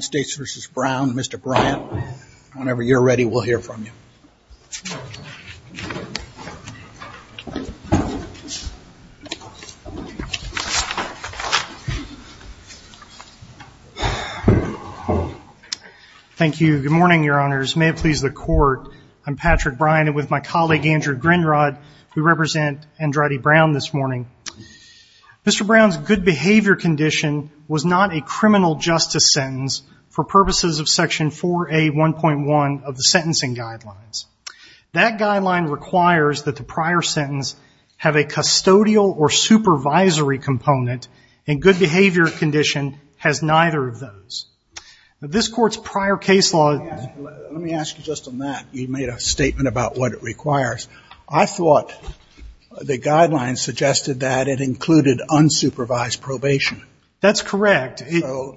Mr. Brown whenever you're ready we'll hear from you thank you good morning your honors may it please the court I'm Patrick Brian and with my colleague Andrew Grinrod we represent Andretti Brown this morning Mr. Brown's good for purposes of section 4A 1.1 of the sentencing guidelines that guideline requires that the prior sentence have a custodial or supervisory component in good behavior condition has neither of those this court's prior case law let me ask you just on that you made a statement about what it requires I thought the guidelines suggested that it included unsupervised probation that's correct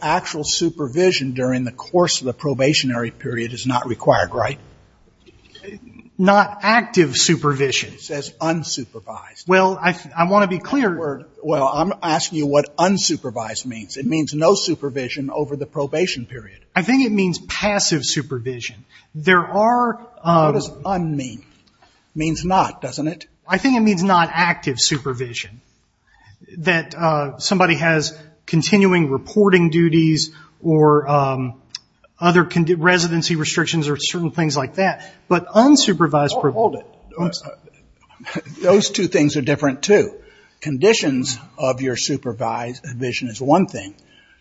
actual supervision during the course of the probationary period is not required right not active supervision says unsupervised well I want to be clear word well I'm asking you what unsupervised means it means no supervision over the probation period I think it means passive supervision there are does unmean means not doesn't it I think it means not active supervision that somebody has continuing reporting duties or other can do residency restrictions or certain things like that but unsupervised hold it those two things are different to conditions of your supervised vision is one thing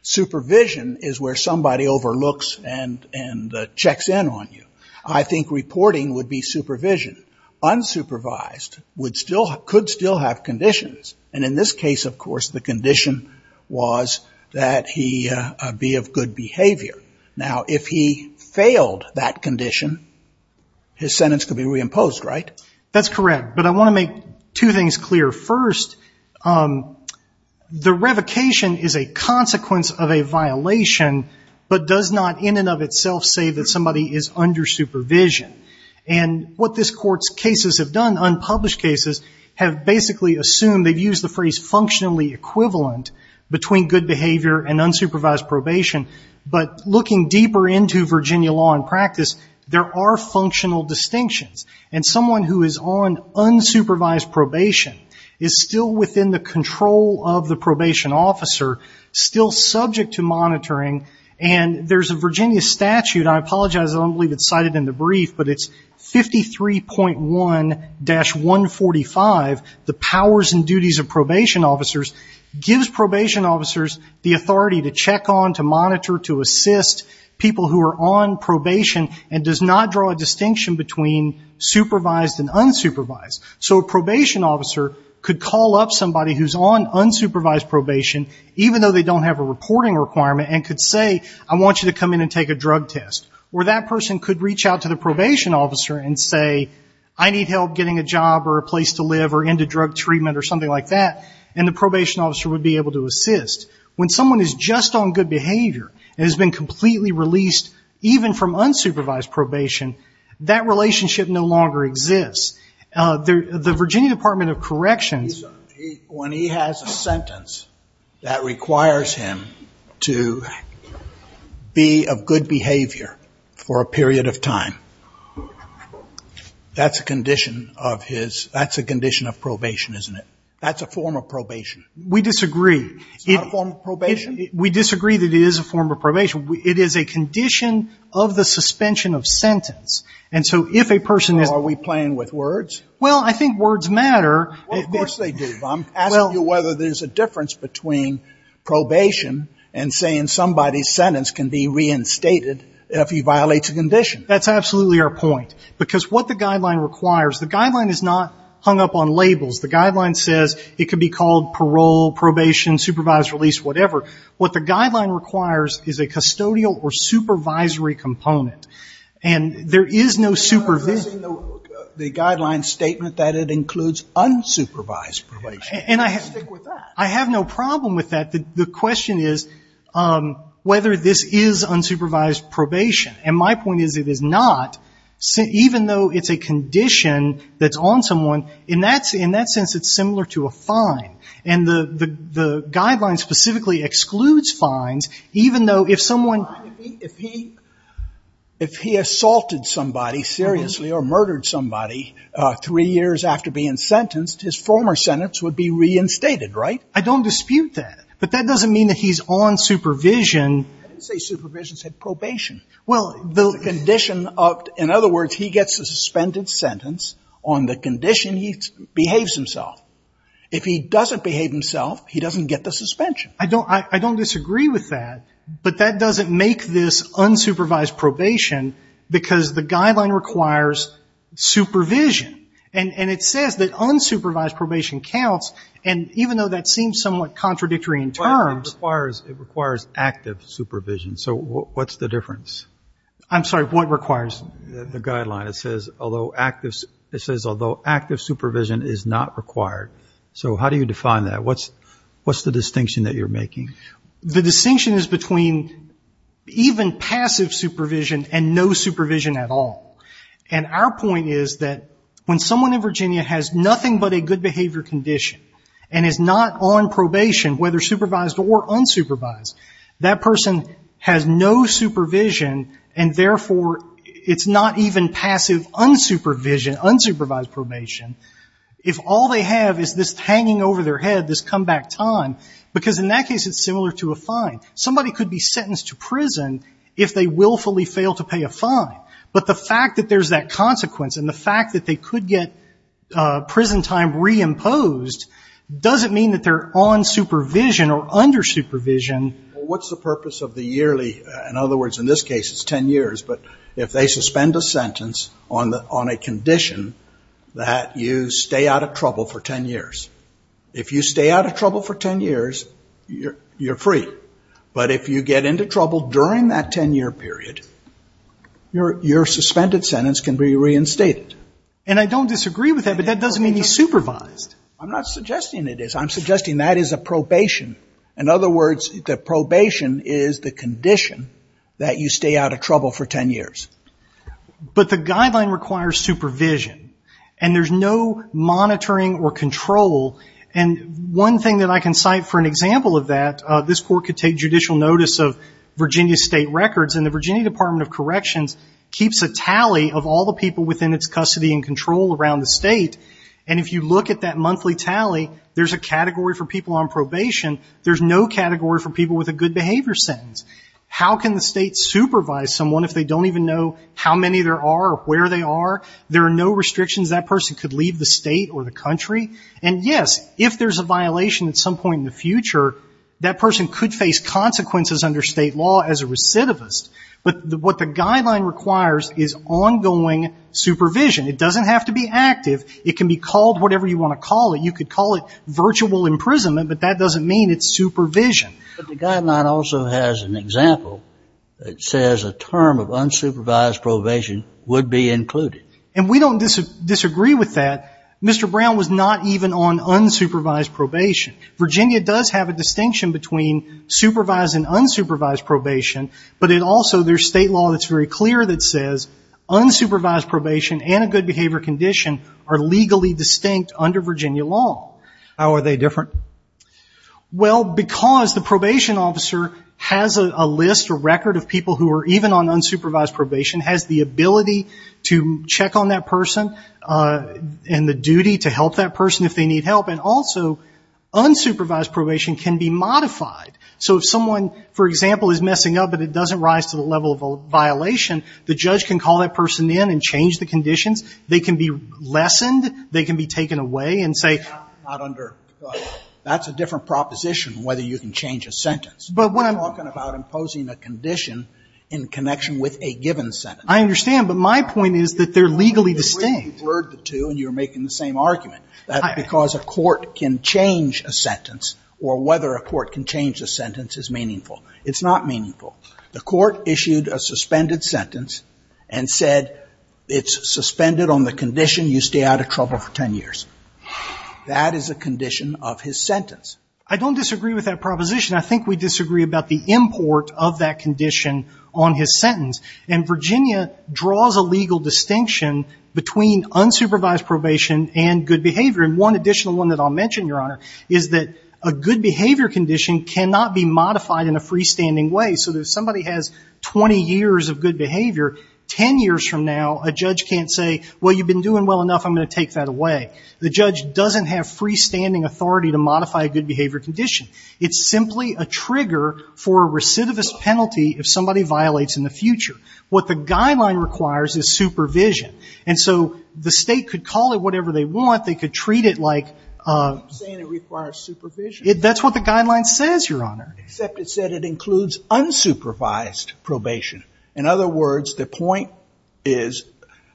supervision is where somebody overlooks and and checks in on you I think reporting would be supervision unsupervised would still could still have conditions and in this case of course the condition was that he be of good behavior now if he failed that condition his sentence could be reimposed right that's correct but I want to make two things clear first the revocation is a consequence of a violation but does not in and of itself say that somebody is under supervision and what this court's cases have done unpublished cases have basically assume they've used the phrase functionally equivalent between good behavior and unsupervised probation but looking deeper into Virginia law and practice there are functional distinctions and someone who is on unsupervised probation is still within the control of the probation officer still subject to monitoring and there's a Virginia statute I apologize I don't believe it's cited in the brief but it's 53.1 dash 145 the powers and duties of probation officers gives probation officers the authority to check on to monitor to assist people who are on probation and does not draw a distinction between supervised and unsupervised so a probation officer could call up somebody who's on unsupervised probation even though they don't have a reporting requirement and could say I want you to come in and take a drug test or that person could reach out to the probation officer and say I need help getting a job or a place to live or into drug treatment or something like that and the probation officer would be able to assist when someone is just on good behavior and has been completely released even from unsupervised probation that relationship no longer exists there the Virginia Department of Corrections when he has a sentence that requires him to be of good behavior for a period of time that's a condition of his that's a condition of probation isn't it that's a form of probation we disagree it's not a form of probation we disagree that it is a form of probation it is a condition of the suspension of sentence and so if a person is are we playing with words well I think words matter of course they do I'm asking you whether there's a difference between probation and saying somebody's sentence can be reinstated if he violates a condition that's absolutely our point because what the guideline requires the guideline is not hung up on labels the guideline says it could be called parole probation supervised release whatever what the guideline requires is a custodial or supervisory component and there is no supervision the guideline statement that it includes unsupervised probation and I have I have no problem with that the question is whether this is unsupervised probation and my point is it is not so even though it's a condition that's on someone in that's in that sense it's similar to a fine and the the guideline specifically excludes fines even though if someone if he if he assaulted somebody seriously or murdered somebody three years after being sentenced his former sentence would be reinstated right I don't dispute that but that well the condition of in other words he gets a suspended sentence on the condition he behaves himself if he doesn't behave himself he doesn't get the suspension I don't I don't disagree with that but that doesn't make this unsupervised probation because the guideline requires supervision and and it says that unsupervised probation counts and even though that seems somewhat contradictory in terms requires it requires active supervision so what's the difference I'm sorry what requires the guideline it says although active it says although active supervision is not required so how do you define that what's what's the distinction that you're making the distinction is between even passive supervision and no supervision at all and our point is that when someone in Virginia has nothing but a good behavior condition and is not on supervision and therefore it's not even passive unsupervision unsupervised probation if all they have is this hanging over their head this comeback time because in that case it's similar to a fine somebody could be sentenced to prison if they willfully fail to pay a fine but the fact that there's that consequence and the fact that they could get prison time reimposed doesn't mean that they're on supervision or under supervision what's the purpose of the in this case it's 10 years but if they suspend a sentence on the on a condition that you stay out of trouble for 10 years if you stay out of trouble for 10 years you're you're free but if you get into trouble during that 10-year period your your suspended sentence can be reinstated and I don't disagree with that but that doesn't mean he's supervised I'm not suggesting it is I'm suggesting that is a probation in other words the probation is the condition that you stay out of trouble for 10 years but the guideline requires supervision and there's no monitoring or control and one thing that I can cite for an example of that this court could take judicial notice of Virginia state records in the Virginia Department of Corrections keeps a tally of all the people within its custody and control around the state and if you look at that monthly tally there's a category for people on probation there's no category for people with a good behavior sentence how can the state supervise someone if they don't even know how many there are where they are there are no restrictions that person could leave the state or the country and yes if there's a violation at some point in the future that person could face consequences under state law as a recidivist but what the guideline requires is ongoing supervision it doesn't have to be active it can be called whatever you want to call it you could call it virtual imprisonment but that doesn't mean it's supervision the guideline also has an example that says a term of unsupervised probation would be included and we don't disagree with that Mr. Brown was not even on unsupervised probation Virginia does have a distinction between supervised and unsupervised probation but it also their state law that's very clear that says unsupervised probation and a good behavior condition are legally distinct under Virginia law how are they different well because the probation officer has a list or record of people who are even on unsupervised probation has the ability to check on that person and the duty to help that person if they need help and also unsupervised probation can be modified so if someone for example is messing up but it doesn't rise to the level of a violation the judge can call that person in and change the conditions they can be lessened they can be taken away and say not under that's a different proposition whether you can change a sentence but when I'm talking about imposing a condition in connection with a given sentence I understand but my point is that they're legally distinct word the two and you're making the same argument that because a court can change a sentence or whether a court can change a sentence is meaningful it's not meaningful the court issued a suspended sentence and said it's suspended on the condition you stay out of trouble for 10 years that is a condition of his sentence I don't disagree with that proposition I think we disagree about the import of that condition on his sentence and Virginia draws a legal distinction between unsupervised probation and good behavior and one additional one that I'll mention your honor is that a good behavior condition cannot be modified in a freestanding way so that somebody has 20 years of good well you've been doing well enough I'm gonna take that away the judge doesn't have freestanding authority to modify a good behavior condition it's simply a trigger for recidivist penalty if somebody violates in the future what the guideline requires is supervision and so the state could call it whatever they want they could treat it like it that's what the guideline says your honor except it said it includes unsupervised probation in other words the point is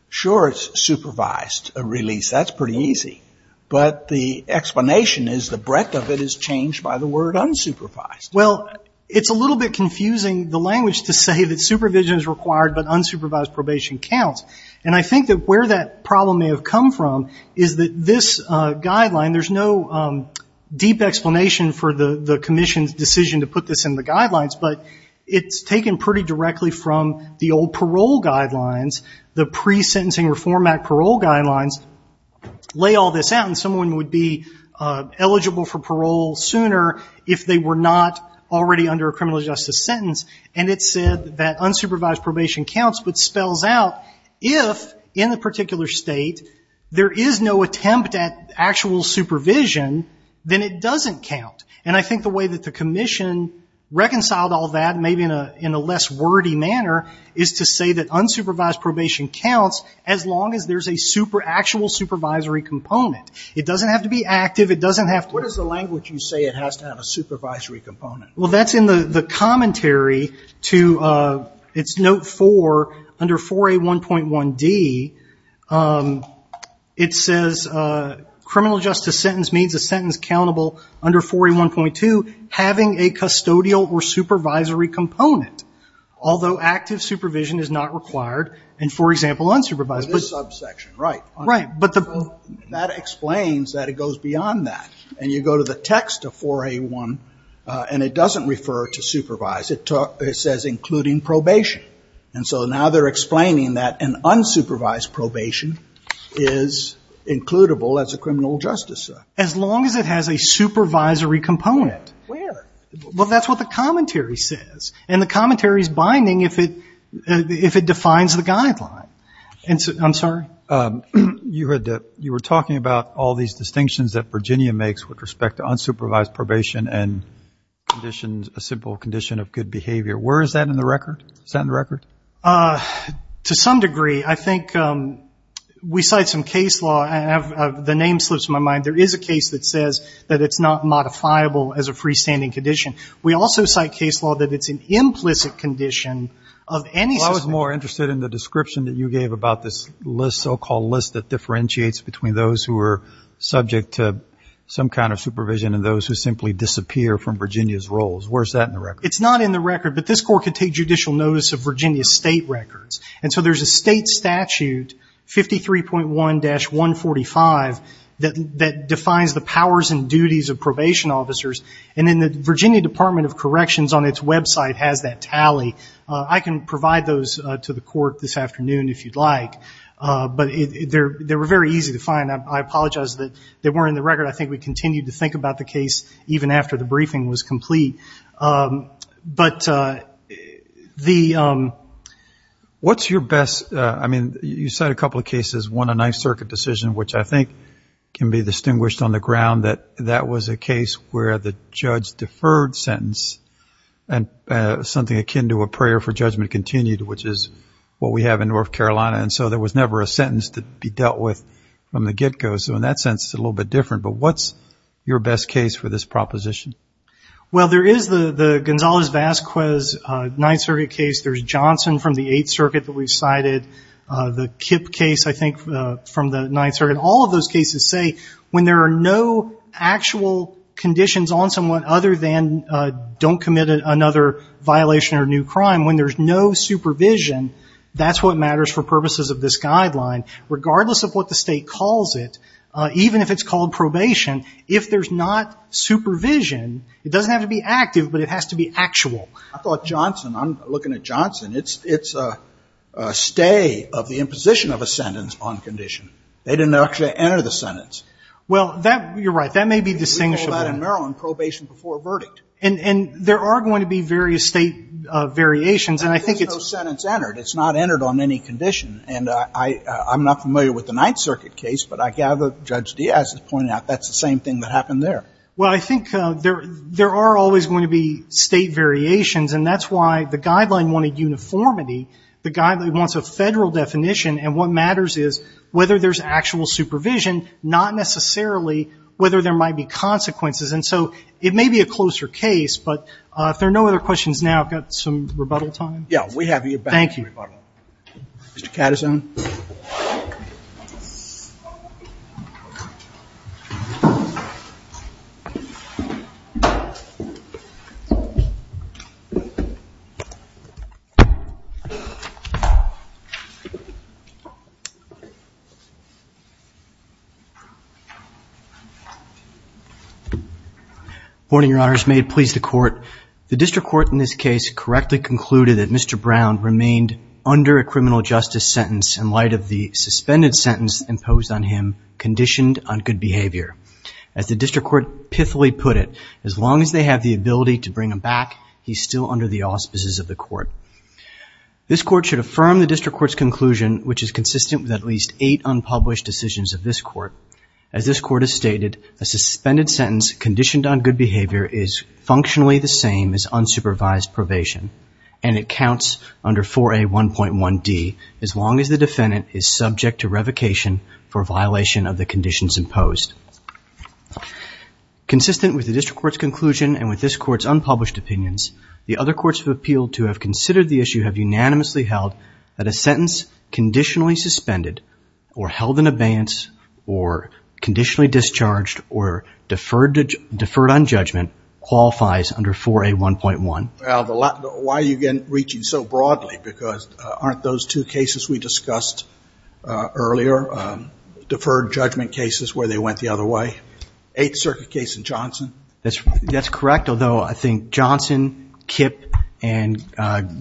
sure it's supervised a release that's pretty easy but the explanation is the breadth of it is changed by the word unsupervised well it's a little bit confusing the language to say that supervision is required but unsupervised probation counts and I think that where that problem may have come from is that this guideline there's no deep explanation for the the Commission's decision to put this in the guidelines but it's taken pretty directly from the parole guidelines the pre-sentencing Reform Act parole guidelines lay all this out and someone would be eligible for parole sooner if they were not already under a criminal justice sentence and it said that unsupervised probation counts but spells out if in the particular state there is no attempt at actual supervision then it doesn't count and I think the way that the say that unsupervised probation counts as long as there's a super actual supervisory component it doesn't have to be active it doesn't have what is the language you say it has to have a supervisory component well that's in the the commentary to its note for under for a 1.1 D it says criminal justice sentence means a sentence countable under 41.2 having a custodial or supervision is not required and for example unsupervised right right but the that explains that it goes beyond that and you go to the text of 4a 1 and it doesn't refer to supervise it took it says including probation and so now they're explaining that an unsupervised probation is includable as a criminal justice as long as it has a supervisory component well that's what the if it defines the guideline and I'm sorry you heard that you were talking about all these distinctions that Virginia makes with respect to unsupervised probation and conditions a simple condition of good behavior where is that in the record set in record to some degree I think we cite some case law and have the name slips my mind there is a case that says that it's not modifiable as a freestanding condition we also cite case law that it's an more interested in the description that you gave about this list so-called list that differentiates between those who are subject to some kind of supervision and those who simply disappear from Virginia's roles where's that in the record it's not in the record but this court could take judicial notice of Virginia state records and so there's a state statute 53.1 dash 145 that that defines the powers and duties of probation officers and in the Virginia Department of Corrections on its website has that tally I can provide those to the court this afternoon if you'd like but they're they were very easy to find I apologize that they weren't in the record I think we continued to think about the case even after the briefing was complete but the what's your best I mean you said a couple of cases won a nice circuit decision which I think can be distinguished on the ground that that was a case where the judge deferred sentence and something akin to a prayer for judgment continued which is what we have in North Carolina and so there was never a sentence to be dealt with from the get-go so in that sense it's a little bit different but what's your best case for this proposition well there is the the Gonzalez-Vasquez 9th Circuit case there's Johnson from the 8th Circuit that we've cited the Kip case I think from the 9th Circuit all of those cases say when there are no actual conditions on someone other than don't commit another violation or new crime when there's no supervision that's what matters for purposes of this guideline regardless of what the state calls it even if it's called probation if there's not supervision it doesn't have to be active but it has to be actual I thought Johnson I'm looking at Johnson it's it's a stay of the imposition of a sentence on condition they didn't actually enter the sentence well that you're right that may be distinguishable in Maryland probation before verdict and and there are going to be various state variations and I think it's no sentence entered it's not entered on any condition and I I'm not familiar with the 9th Circuit case but I gather judge Diaz is pointing out that's the same thing that happened there well I think there there are always going to be state variations and that's why the guideline wanted uniformity the guy that wants a federal definition and what there's actual supervision not necessarily whether there might be consequences and so it may be a closer case but if there are no other questions now I've got some rebuttal time yeah we have you thank you mr. Katason morning your honors made please the court the district court in this case correctly concluded that mr. Brown remained under a criminal justice sentence in light of the suspended sentence imposed on him conditioned on good behavior as the district court pithily put it as long as they have the ability to bring him back he's still under the auspices of the court this court should affirm the district court's conclusion which is consistent with at least eight unpublished decisions of this court as this court has stated a suspended sentence conditioned on good behavior is functionally the same as supervised probation and it counts under 4a 1.1 D as long as the defendant is subject to revocation for violation of the conditions imposed consistent with the district court's conclusion and with this courts unpublished opinions the other courts have appealed to have considered the issue have unanimously held that a sentence conditionally suspended or held in abeyance or conditionally discharged or deferred deferred on judgment qualifies under 4a 1.1 well the lot why are you getting reaching so broadly because aren't those two cases we discussed earlier deferred judgment cases where they went the other way 8th Circuit case in Johnson that's that's correct although I think Johnson Kip and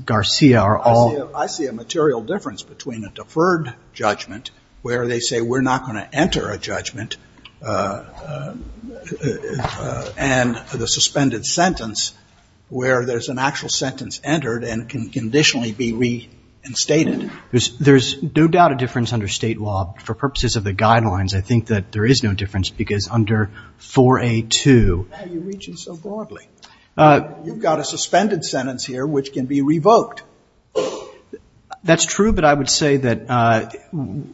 Garcia are all I see a material difference between a deferred judgment where they say we're not going to enter a judgment and the suspended sentence where there's an actual sentence entered and can conditionally be reinstated there's there's no doubt a difference under state law for purposes of the guidelines I think that there is no difference because under 4a to you've got a suspended sentence here which can be revoked that's true but I would say that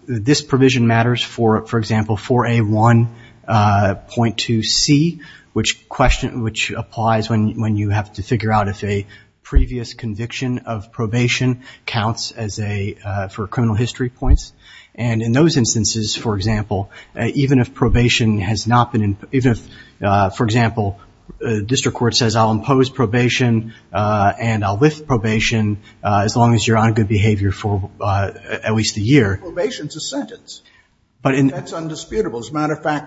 this provision matters for for example for a 1.2 C which question which applies when when you have to figure out if a previous conviction of probation counts as a for criminal history points and in those instances for example even if probation has not been in even if for example district court says I'll impose probation and I'll lift probation as long as you're on good behavior for at least a year probation to sentence but in that's undisputable as a matter of right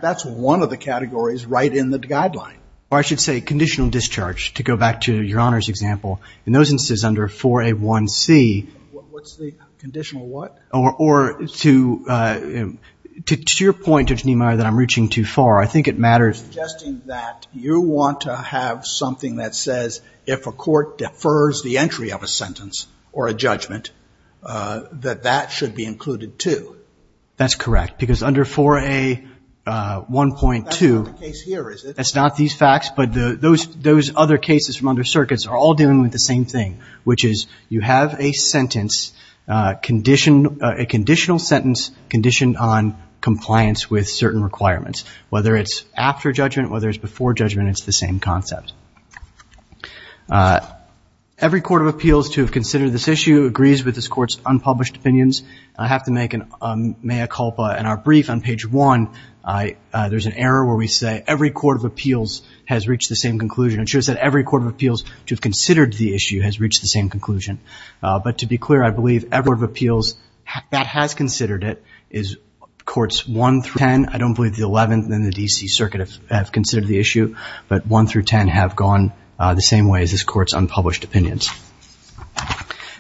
in the guideline I should say conditional discharge to go back to your honors example in those instances under for a 1 C or or to to your point of Nehemiah that I'm reaching too far I think it matters that you want to have something that says if a court defers the entry of a sentence or a judgment that that should be included too that's correct because under for a 1.2 it's not these facts but the those those other cases from under circuits are all dealing with the same thing which is you have a sentence condition a conditional sentence conditioned on compliance with certain requirements whether it's after judgment whether it's before judgment it's the same concept every court of appeals to consider this issue agrees with this courts unpublished opinions I have to make an mea culpa and our brief on page one I there's an error where we say every court of appeals has reached the same conclusion ensures that every court of appeals to have considered the issue has reached the same conclusion but to be clear I believe ever of appeals that has considered it is courts 1 through 10 I don't believe the 11th in the DC Circuit of have considered the issue but 1 through 10 have gone the same way as this courts unpublished opinions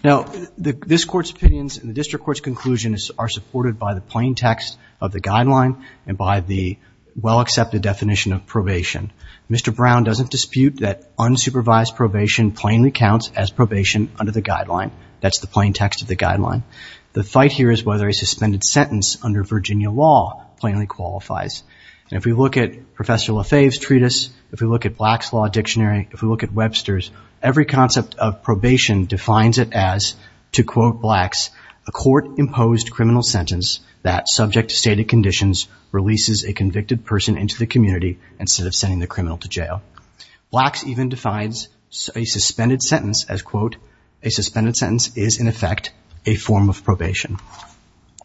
now the this court's opinions in the district court's conclusion is are supported by the plain text of the guideline and by the well-accepted definition of probation mr. Brown doesn't dispute that unsupervised probation plainly counts as probation under the guideline that's the plain text of the guideline the fight here is whether a suspended sentence under Virginia law plainly qualifies and if we look at professor Lafave's treatise if we look at blacks law dictionary if we look at Webster's every concept of probation defines it as to quote blacks a court-imposed criminal sentence that subject to stated conditions releases a convicted person into the community instead of sending the criminal to jail blacks even defines a suspended sentence as quote a suspended sentence is in effect a form of probation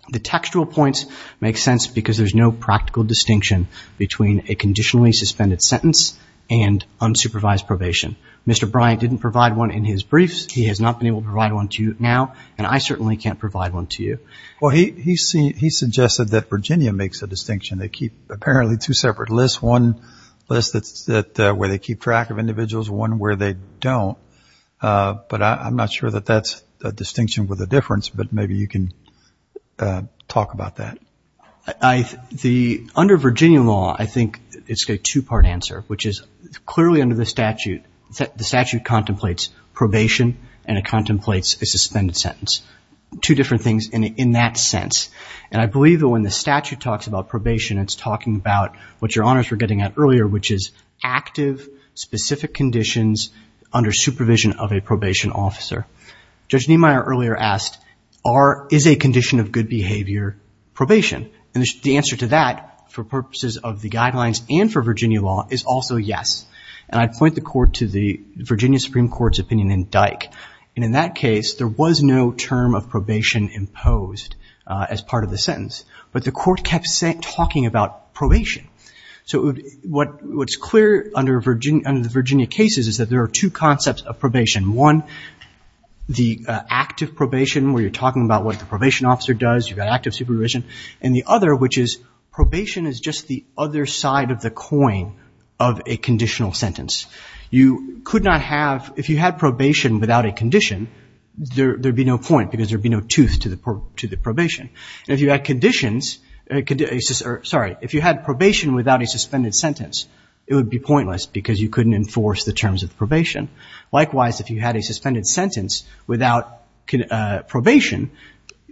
the textual points make sense because there's no practical distinction between a unsupervised probation mr. Bryant didn't provide one in his briefs he has not been able to provide one to you now and I certainly can't provide one to you well he see he suggested that Virginia makes a distinction they keep apparently two separate lists one list that's that where they keep track of individuals one where they don't but I'm not sure that that's a distinction with a difference but maybe you can talk about that I the under Virginia law I think it's a two-part answer which is clearly under the statute that the statute contemplates probation and it contemplates a suspended sentence two different things in that sense and I believe that when the statute talks about probation it's talking about what your honors were getting at earlier which is active specific conditions under supervision of a probation officer judge Niemeyer earlier asked are is a condition of good behavior probation and the answer to that for purposes of the guidelines and for Virginia law is also yes and I'd point the court to the Virginia Supreme Court's opinion in dyke and in that case there was no term of probation imposed as part of the sentence but the court kept saying talking about probation so what what's clear under Virginia under the Virginia cases is that there are two concepts of probation one the active probation where you're talking about what the probation officer does you got active supervision and the other which is probation is just the other side of the coin of a conditional sentence you could not have if you had probation without a condition there there'd be no point because there'd be no tooth to the probe to the probation if you had conditions it could be sorry if you had probation without a suspended sentence it would be pointless because you couldn't enforce the terms of probation likewise if you had a suspended sentence without probation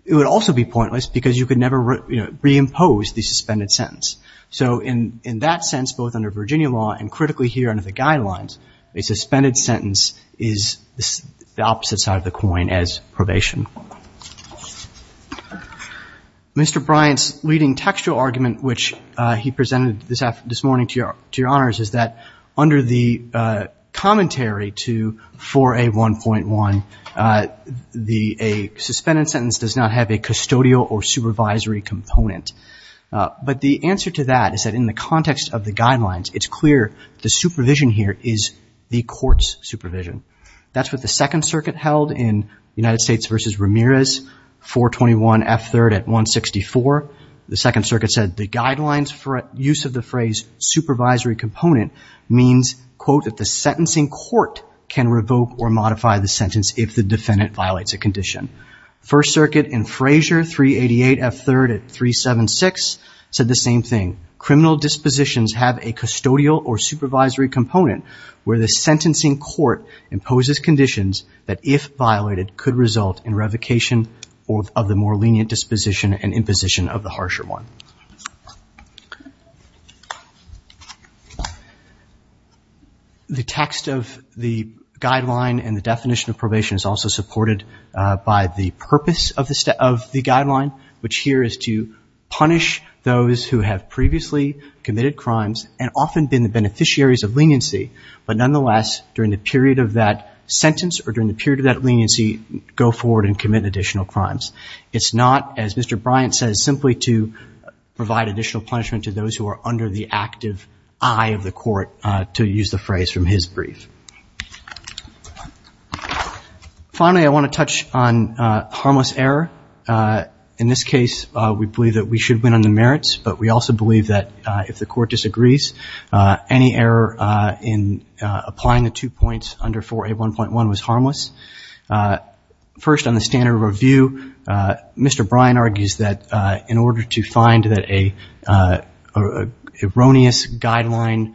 it would also be pointless because you could never reimpose the suspended sentence so in in that sense both under Virginia law and critically here under the guidelines a suspended sentence is the opposite side of the coin as probation mr. Bryant's leading textual argument which he presented this after this morning to your to your 1.1 the a suspended sentence does not have a custodial or supervisory component but the answer to that is that in the context of the guidelines it's clear the supervision here is the courts supervision that's what the Second Circuit held in the United States versus Ramirez 421 f-3rd at 164 the Second Circuit said the guidelines for use of the phrase supervisory component means that the sentencing court can revoke or modify the sentence if the defendant violates a condition First Circuit in Frazier 388 f-3rd at 376 said the same thing criminal dispositions have a custodial or supervisory component where the sentencing court imposes conditions that if violated could result in revocation or of the more lenient disposition and imposition of the harsher one the text of the guideline and the definition of probation is also supported by the purpose of the step of the guideline which here is to punish those who have previously committed crimes and often been the beneficiaries of leniency but nonetheless during the period of that sentence or during the period of that leniency go forward and commit additional crimes it's not as mr. provide additional punishment to those who are under the active eye of the court to use the phrase from his brief finally I want to touch on harmless error in this case we believe that we should win on the merits but we also believe that if the court disagrees any error in applying the two points under for a 1.1 was harmless first on the standard review mr. Brian argues that in mind that a erroneous guideline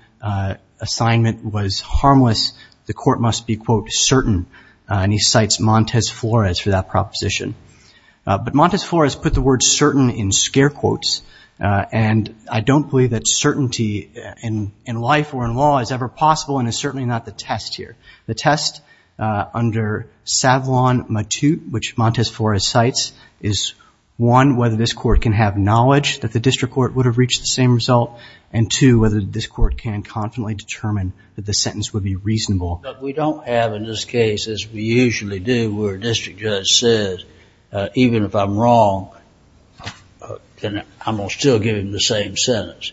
assignment was harmless the court must be quote certain and he cites Montez Flores for that proposition but Montez Flores put the word certain in scare quotes and I don't believe that certainty in in life or in law is ever possible and is certainly not the test here the test under Savlon Matute which Montez Flores sites is one whether this court can have knowledge that the district court would have reached the same result and to whether this court can confidently determine that the sentence would be reasonable we don't have in this case as we usually do where district judge says even if I'm wrong and I'm gonna still give him the same sentence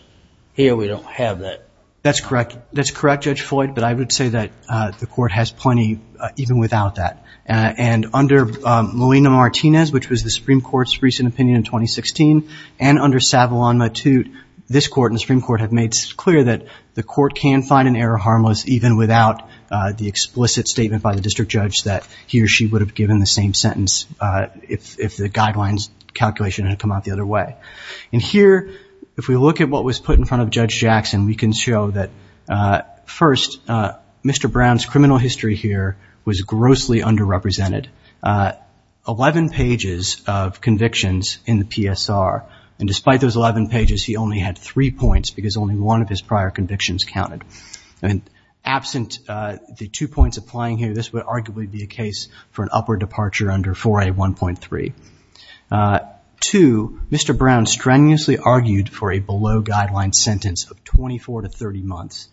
here we don't have that that's correct that's correct judge Floyd but I would say that the court has plenty even without that and under Molina Martinez which was the Supreme Court's recent opinion in 2016 and under Savlon Matute this court in the Supreme Court have made clear that the court can find an error harmless even without the explicit statement by the district judge that he or she would have given the same sentence if the guidelines calculation had come out the other way and here if we look at what was put in front of Judge Jackson we can show that first mr. Brown's criminal history here was of convictions in the PSR and despite those 11 pages he only had three points because only one of his prior convictions counted and absent the two points applying here this would arguably be a case for an upward departure under for a 1.3 to mr. Brown strenuously argued for a below-guidelines sentence of 24 to 30 months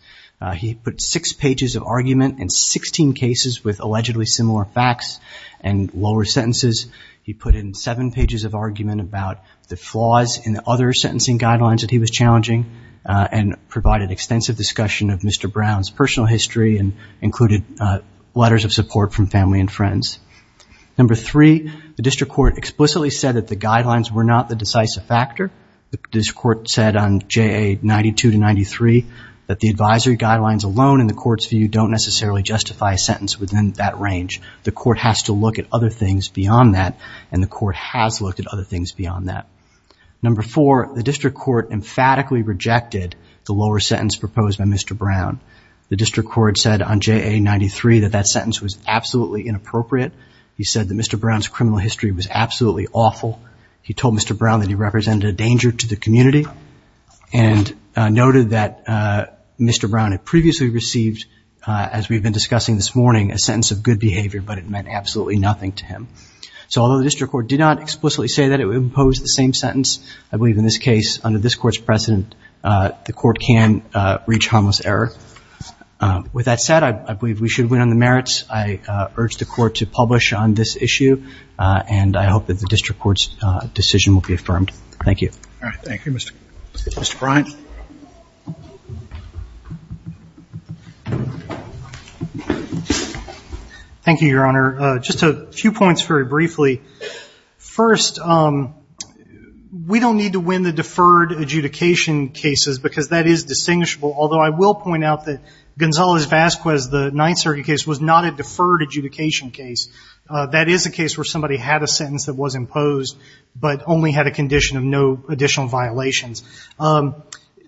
he put six pages of argument in 16 cases with allegedly similar facts and lower sentences he put in seven pages of argument about the flaws in the other sentencing guidelines that he was challenging and provided extensive discussion of mr. Brown's personal history and included letters of support from family and friends number three the district court explicitly said that the guidelines were not the decisive factor this court said on ja 92 to 93 that the advisory guidelines alone in the court's view don't necessarily justify sentence within that range the court has to look at other things beyond that and the court has looked at other things beyond that number for the district court emphatically rejected the lower sentence proposed by mr. Brown the district court said on ja 93 that that sentence was absolutely inappropriate he said that mr. Brown's criminal history was absolutely awful he told mr. Brown that he represented a danger to the we've been discussing this morning a sense of good behavior but it meant absolutely nothing to him so although the district court did not explicitly say that it would impose the same sentence I believe in this case under this court's precedent the court can reach harmless error with that said I believe we should win on the merits I urge the court to publish on this issue and I hope that the district courts decision will be affirmed thank you all thank you your honor just a few points very briefly first we don't need to win the deferred adjudication cases because that is distinguishable although I will point out that Gonzales Vasquez the Ninth Circuit case was not a deferred adjudication case that is a case where somebody had a sentence that was imposed but only had a condition of no additional violations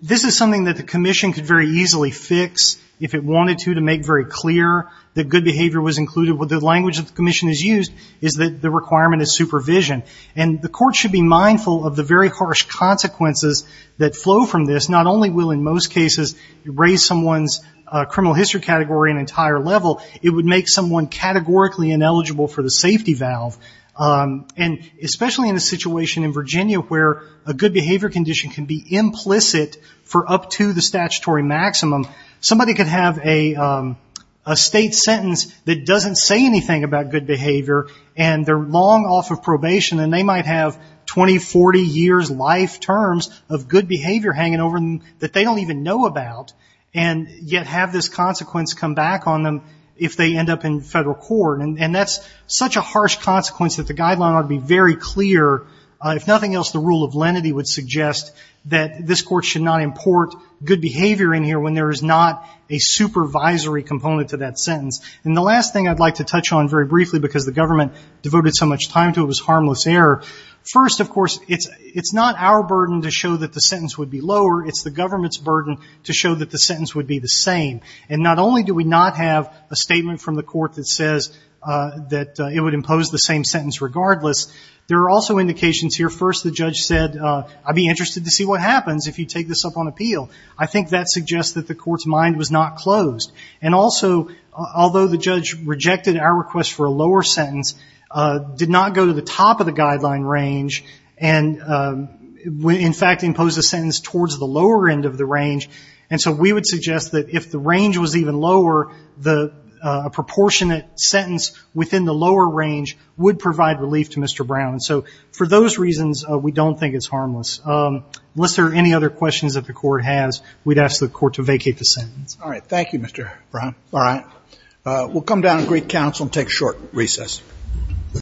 this is something that the Commission could very easily fix if it wanted to to make very clear that good behavior was included with the language of the Commission is used is that the requirement is supervision and the court should be mindful of the very harsh consequences that flow from this not only will in most cases raise someone's criminal history category an entire level it would make someone categorically ineligible for the safety valve and especially in a situation in the statutory maximum somebody could have a state sentence that doesn't say anything about good behavior and they're long off of probation and they might have 2040 years life terms of good behavior hanging over them that they don't even know about and yet have this consequence come back on them if they end up in federal court and that's such a harsh consequence that the guideline ought to be very clear if nothing else the rule of lenity would suggest that this court should not import good behavior in here when there is not a supervisory component to that sentence and the last thing I'd like to touch on very briefly because the government devoted so much time to it was harmless error first of course it's it's not our burden to show that the sentence would be lower it's the government's burden to show that the sentence would be the same and not only do we not have a statement from the court that says that it would impose the same sentence regardless there are also indications here first the judge said I'd be interested to see what happens if you take this up on appeal I think that suggests that the court's mind was not closed and also although the judge rejected our request for a lower sentence did not go to the top of the guideline range and in fact imposed a sentence towards the lower end of the range and so we would suggest that if the range was even lower the proportionate sentence within the lower range would provide relief to mr. Brown so for those reasons we don't think it's harmless unless there are any other questions that the court has we'd ask the court to vacate the sentence all right thank you mr. Brown all right we'll come down and greet counsel and take short recess